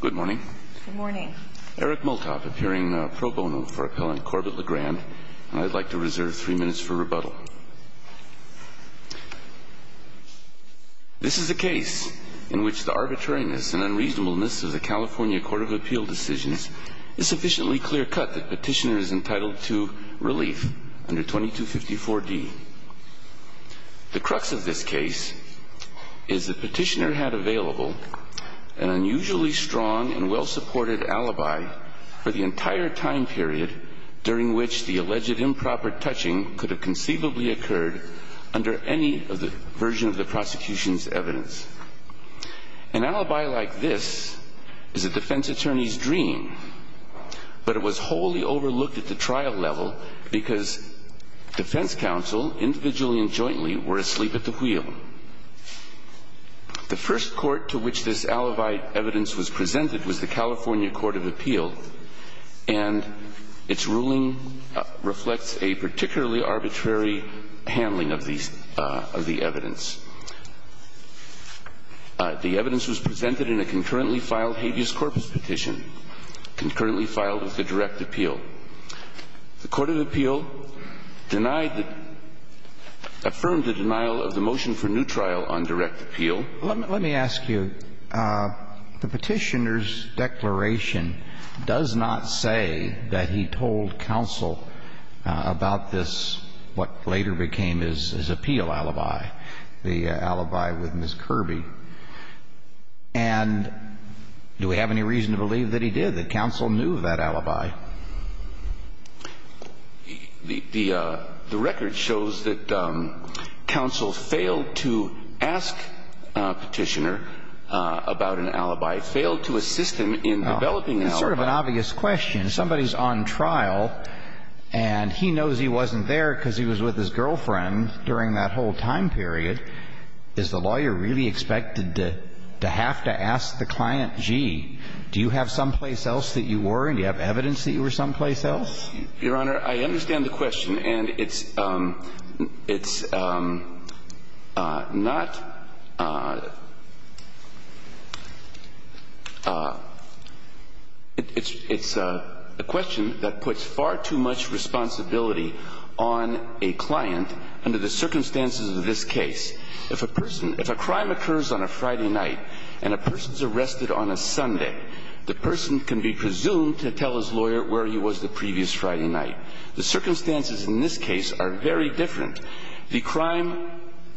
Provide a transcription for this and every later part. Good morning. Good morning. Eric Multop, appearing pro bono for Appellant Corbett Le Grand, and I'd like to reserve three minutes for rebuttal. This is a case in which the arbitrariness and unreasonableness of the California Court of Appeal decisions is sufficiently clear-cut that petitioner is entitled to relief under 2254 D. The crux of this case is the petitioner had available an unusually strong and well-supported alibi for the entire time period during which the alleged improper touching could have conceivably occurred under any version of the prosecution's evidence. An alibi like this is a defense attorney's dream, but it was wholly overlooked at the trial level because defense counsel, individually and jointly, were asleep at the wheel. The first court to which this alibi evidence was presented was the California Court of Appeal, and its ruling reflects a particularly arbitrary handling of the evidence. The evidence was presented in a concurrently filed habeas corpus petition, concurrently The Court of Appeal denied the – affirmed the denial of the motion for new trial on direct appeal. Let me ask you, the petitioner's declaration does not say that he told counsel about this, what later became his appeal alibi, the alibi with Ms. Kirby. And do we have any reason to believe that he did, that counsel knew of that alibi? The record shows that counsel failed to ask petitioner about an alibi, failed to assist him in developing an alibi. It's sort of an obvious question. Somebody's on trial, and he knows he wasn't there because he was with his girlfriend during that whole time period. Is the lawyer really expected to have to ask the client, gee, do you have someplace else that you were and do you have evidence that you were someplace else? Your Honor, I understand the question. And it's not – it's a question that puts far too much responsibility on a client under the circumstances of this case. If a person – if a crime occurs on a Friday night and a person's arrested on a Sunday, the person can be presumed to tell his lawyer where he was the previous Friday night. The circumstances in this case are very different. The crime,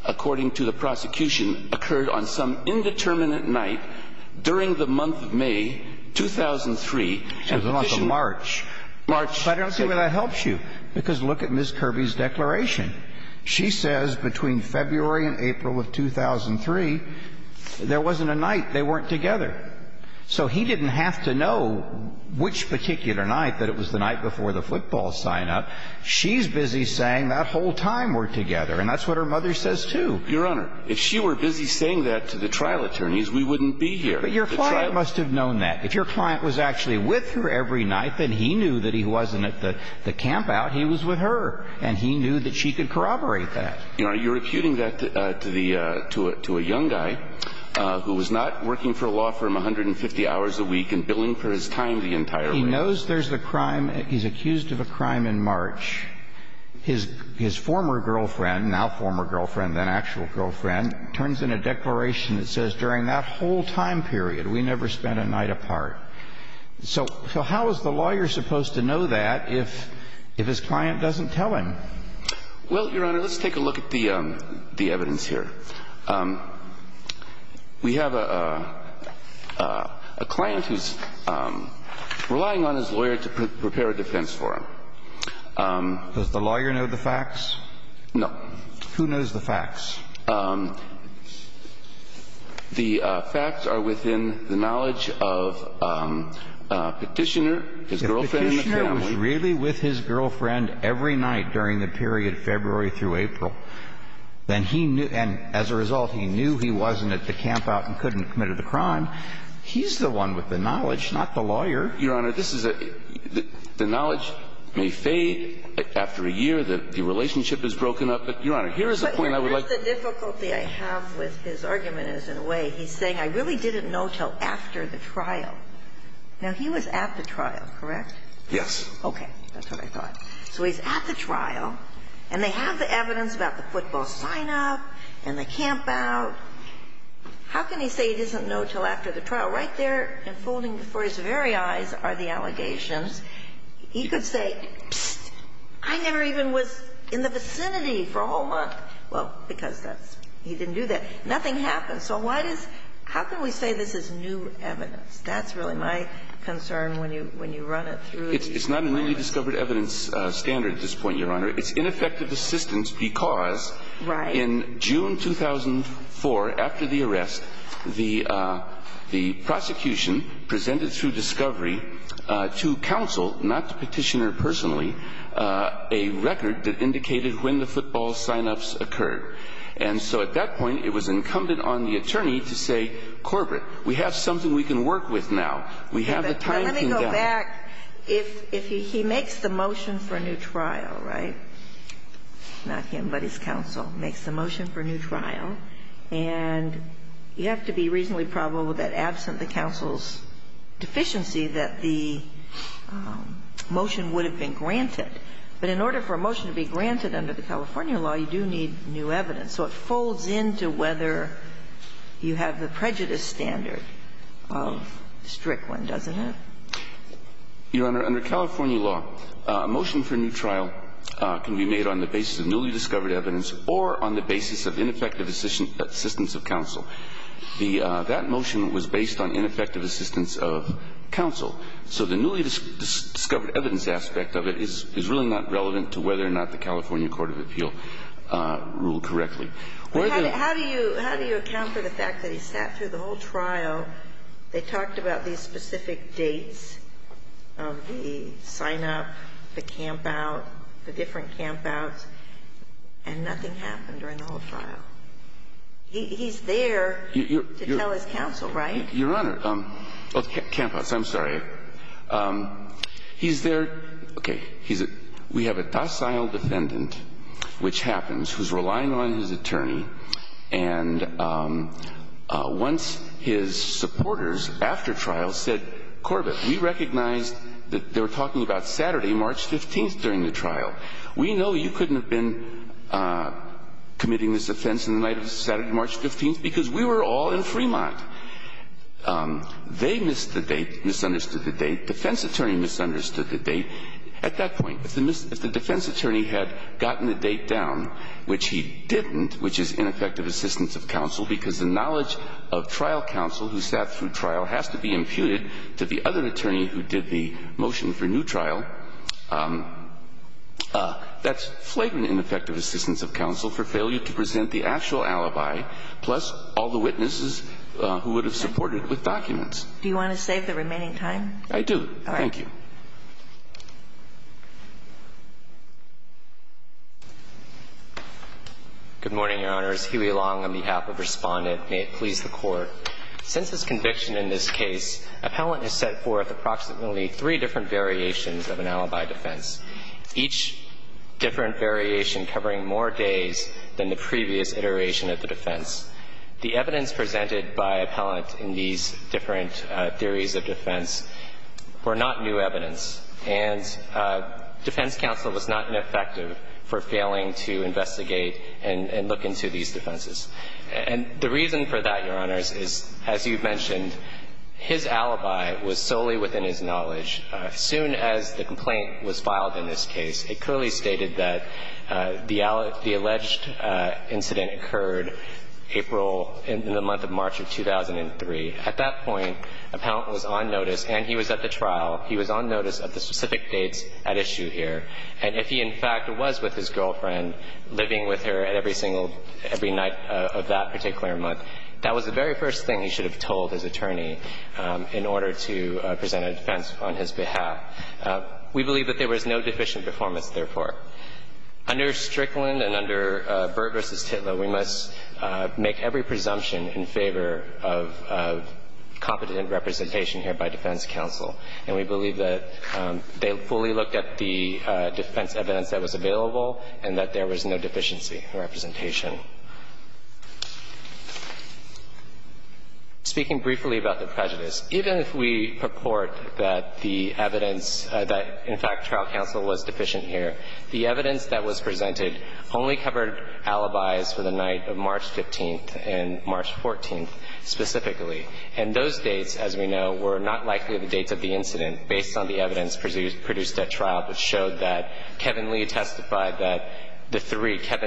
according to the prosecution, occurred on some indeterminate night during the month of May 2003. And the petition – There's a lot of March. March – But I don't see where that helps you, because look at Ms. Kirby's declaration. She says between February and April of 2003, there wasn't a night they weren't together. So he didn't have to know which particular night, that it was the night before the football sign-up. She's busy saying that whole time we're together. And that's what her mother says, too. Your Honor, if she were busy saying that to the trial attorneys, we wouldn't be here. But your client must have known that. If your client was actually with her every night, then he knew that he wasn't at the campout. He was with her. And he knew that she could corroborate that. Are you reputing that to a young guy who was not working for a law firm 150 hours a week and billing for his time the entire way? He knows there's a crime. He's accused of a crime in March. His former girlfriend – now former girlfriend, then actual girlfriend – turns in a declaration that says during that whole time period, we never spent a night apart. So how is the lawyer supposed to know that if his client doesn't tell him? Well, Your Honor, let's take a look at the evidence here. We have a client who's relying on his lawyer to prepare a defense for him. Does the lawyer know the facts? No. Who knows the facts? The facts are within the knowledge of Petitioner, his girlfriend and the family. If he was really with his girlfriend every night during the period February through April, then he knew – and as a result, he knew he wasn't at the campout and couldn't have committed the crime. He's the one with the knowledge, not the lawyer. Your Honor, this is a – the knowledge may fade after a year. The relationship is broken up. But, Your Honor, here is the point I would like – But here's the difficulty I have with his argument is, in a way, he's saying I really didn't know until after the trial. Now, he was at the trial, correct? Yes. Okay. That's what I thought. So he's at the trial, and they have the evidence about the football sign-up and the campout. How can he say he doesn't know until after the trial? Right there, unfolding before his very eyes, are the allegations. He could say, psst, I never even was in the vicinity for a whole month. Well, because that's – he didn't do that. Nothing happened. So why does – how can we say this is new evidence? That's really my concern when you run it through the courts. It's not a newly discovered evidence standard at this point, Your Honor. It's ineffective assistance because in June 2004, after the arrest, the prosecution presented through discovery to counsel, not the Petitioner personally, a record that indicated when the football sign-ups occurred. And so at that point, it was incumbent on the attorney to say, corporate, we have something we can work with now. We have the time. Now, let me go back. If he makes the motion for a new trial, right? Not him, but his counsel makes the motion for a new trial. And you have to be reasonably probable that absent the counsel's deficiency that the motion would have been granted. But in order for a motion to be granted under the California law, you do need new evidence. And so it folds into whether you have the prejudice standard of Strickland, doesn't it? Your Honor, under California law, a motion for a new trial can be made on the basis of newly discovered evidence or on the basis of ineffective assistance of counsel. The – that motion was based on ineffective assistance of counsel. So the newly discovered evidence aspect of it is really not relevant to whether or not the California court of appeal ruled correctly. Where the – But how do you – how do you account for the fact that he sat through the whole trial, they talked about these specific dates of the sign-up, the camp-out, the different camp-outs, and nothing happened during the whole trial? He's there to tell his counsel, right? Your Honor. Oh, camp-outs. I'm sorry. He's there – okay. He's a – we have a docile defendant, which happens, who's relying on his attorney. And once his supporters, after trial, said, Corbett, we recognized that they were talking about Saturday, March 15th, during the trial. We know you couldn't have been committing this offense on the night of Saturday, March 15th, because we were all in Fremont. They missed the date, misunderstood the date. Defense attorney misunderstood the date. At that point, if the defense attorney had gotten the date down, which he didn't, which is ineffective assistance of counsel, because the knowledge of trial counsel who sat through trial has to be imputed to the other attorney who did the motion for new trial. That's flagrant ineffective assistance of counsel for failure to present the actual You want to save the remaining time? I do. All right. Thank you. Good morning, Your Honors. Huey Long on behalf of Respondent may it please the Court. Since his conviction in this case, appellant has set forth approximately three different variations of an alibi defense, each different variation covering more days than the previous iteration of the defense. The evidence presented by appellant in these different theories of defense were not new evidence. And defense counsel was not ineffective for failing to investigate and look into these defenses. And the reason for that, Your Honors, is, as you mentioned, his alibi was solely within his knowledge. As soon as the complaint was filed in this case, it clearly stated that the alleged incident occurred April – in the month of March of 2003. At that point, appellant was on notice, and he was at the trial, he was on notice of the specific dates at issue here. And if he, in fact, was with his girlfriend, living with her at every single – every night of that particular month, that was the very first thing he should have told his attorney in order to present a defense on his behalf. We believe that there was no deficient performance, therefore. Under Strickland and under Byrd v. Titlow, we must make every presumption in favor of competent representation here by defense counsel. And we believe that they fully looked at the defense evidence that was available and that there was no deficiency representation. Speaking briefly about the prejudice, even if we purport that the evidence – that, in fact, trial counsel was deficient here, the evidence that was presented only covered alibis for the night of March 15th and March 14th specifically. And those dates, as we know, were not likely the dates of the incident based on the evidence produced at trial that showed that Kevin Lee testified that the three –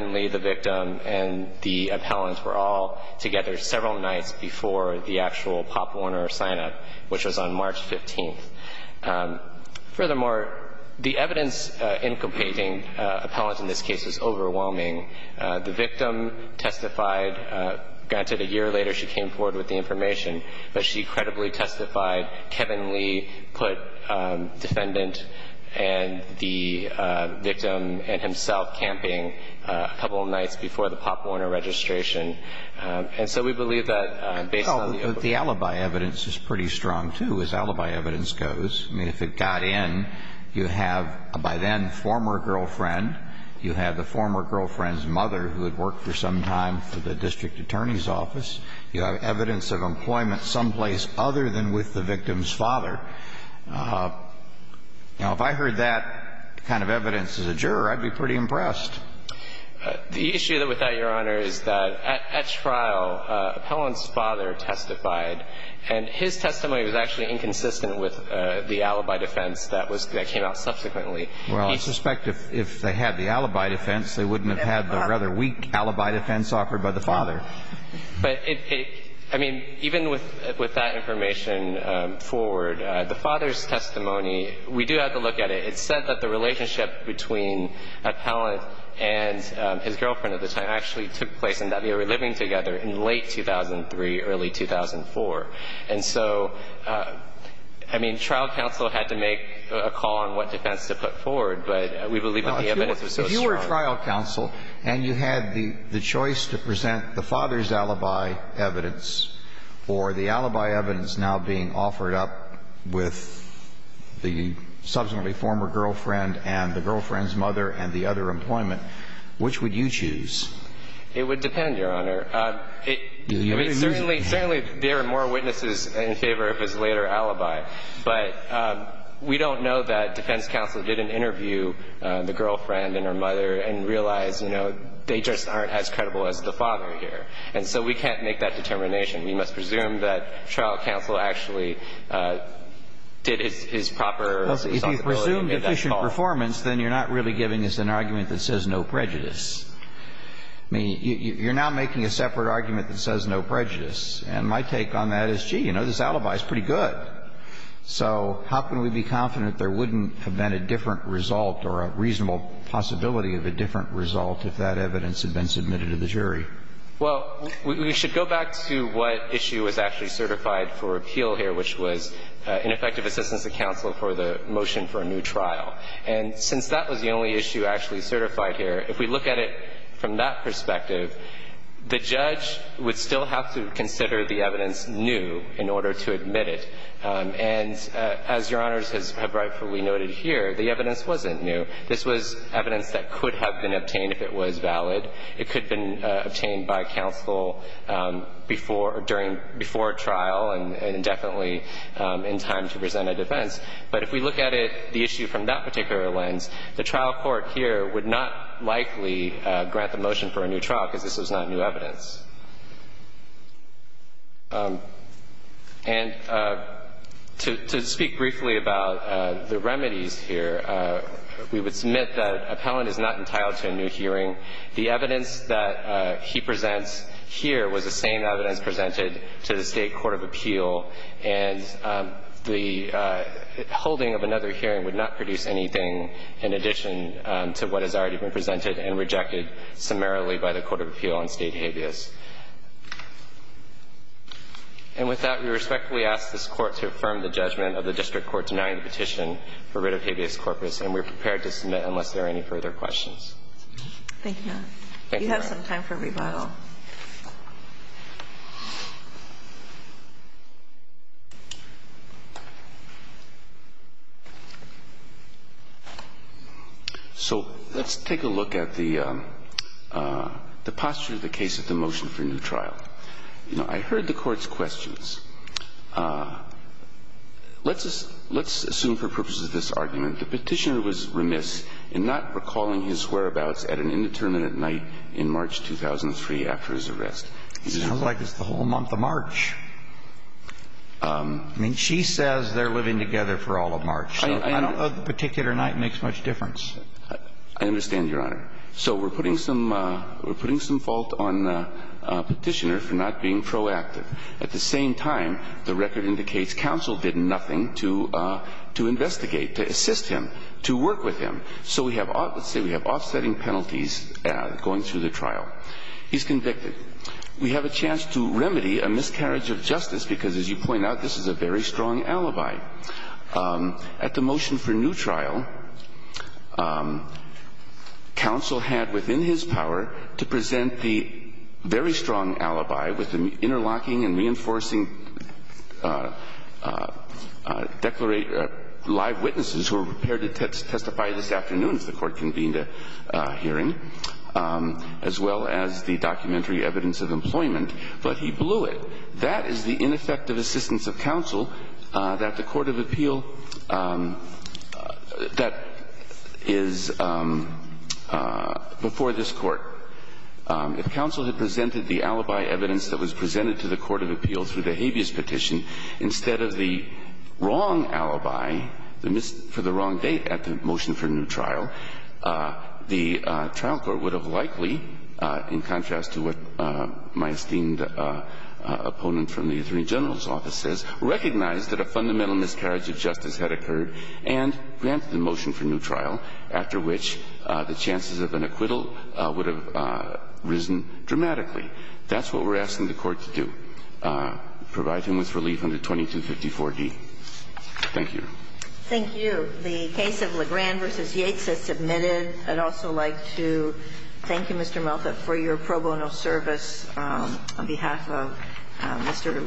and the appellant were all together several nights before the actual Pop Warner sign-up, which was on March 15th. Furthermore, the evidence in completing appellant in this case was overwhelming. The victim testified – granted, a year later she came forward with the information, but she credibly testified. Kevin Lee put defendant and the victim and himself camping a couple of nights before the Pop Warner registration. And so we believe that based on the – Well, the alibi evidence is pretty strong, too, as alibi evidence goes. I mean, if it got in, you have a by then former girlfriend. You have the former girlfriend's mother who had worked for some time for the district attorney's office. You have evidence of employment someplace other than with the victim's father. Now, if I heard that kind of evidence as a juror, I'd be pretty impressed. The issue with that, Your Honor, is that at trial, appellant's father testified. And his testimony was actually inconsistent with the alibi defense that was – that came out subsequently. Well, I suspect if they had the alibi defense, they wouldn't have had the rather weak alibi defense offered by the father. But it – I mean, even with that information forward, the father's testimony, we do have to look at it. It's said that the relationship between appellant and his girlfriend at the time actually took place and that they were living together in late 2003, early 2004. And so, I mean, trial counsel had to make a call on what defense to put forward. But we believe that the evidence was so strong. If you were trial counsel and you had the choice to present the father's alibi evidence or the alibi evidence now being offered up with the subsequently former girlfriend and the girlfriend's mother and the other employment, which would you choose? It would depend, Your Honor. Certainly, there are more witnesses in favor of his later alibi. But we don't know that defense counsel didn't interview the girlfriend and her mother and realize, you know, they just aren't as credible as the father here. And so we can't make that determination. We must presume that trial counsel actually did his proper responsibility. So if you presume deficient performance, then you're not really giving us an argument that says no prejudice. I mean, you're now making a separate argument that says no prejudice. And my take on that is, gee, you know, this alibi is pretty good. So how can we be confident there wouldn't have been a different result or a reasonable possibility of a different result if that evidence had been submitted to the jury? Well, we should go back to what issue is actually certified for appeal here, which was ineffective assistance of counsel for the motion for a new trial. And since that was the only issue actually certified here, if we look at it from that perspective, the judge would still have to consider the evidence new in order to admit it. And as Your Honors have rightfully noted here, the evidence wasn't new. This was evidence that could have been obtained if it was valid. It could have been obtained by counsel before trial and definitely in time to present a defense. But if we look at the issue from that particular lens, the trial court here would not likely grant the motion for a new trial because this was not new evidence. And to speak briefly about the remedies here, we would submit that appellant is not entitled to a new hearing. The evidence that he presents here was the same evidence presented to the State court of appeal, and the holding of another hearing would not produce anything in addition to what has already been presented and rejected summarily by the court of appeal on State habeas. And with that, we respectfully ask this Court to affirm the judgment of the district court denying the petition for writ of habeas corpus, and we are prepared to submit unless there are any further questions. Thank you, Your Honor. Thank you, Your Honor. You have some time for rebuttal. So let's take a look at the posture of the case of the motion for new trial. You know, I heard the Court's questions. Let's assume for purposes of this argument the petitioner was remiss in not recalling his whereabouts at an indeterminate night in March 2003 after his arrest. It sounds like it's the whole month of March. I mean, she says they're living together for all of March. I don't know if a particular night makes much difference. I understand, Your Honor. So we're putting some fault on the petitioner for not being proactive. At the same time, the record indicates counsel did nothing to investigate, to assist him, to work with him. So we have, let's say we have offsetting penalties going through the trial. He's convicted. We have a chance to remedy a miscarriage of justice because, as you point out, this is a very strong alibi. At the motion for new trial, counsel had within his power to present the very strong alibi with the interlocking and reinforcing live witnesses who were prepared to testify this afternoon if the Court convened a hearing, as well as the documentary evidence of employment. But he blew it. That is the ineffective assistance of counsel that the court of appeal that is before this Court. If counsel had presented the alibi evidence that was presented to the court of appeal through the habeas petition, instead of the wrong alibi for the wrong date at the motion for new trial, the trial court would have likely, in contrast to what my esteemed opponent from the attorney general's office says, recognized that a fundamental miscarriage of justice had occurred and granted the motion for new trial, after which the chances of an acquittal would have risen dramatically. That's what we're asking the Court to do, provide him with relief under 2254d. Thank you. Thank you. The case of Legrand v. Yates has submitted. I'd also like to thank you, Mr. Malthoff, for your pro bono service on behalf of Mr. Legrand.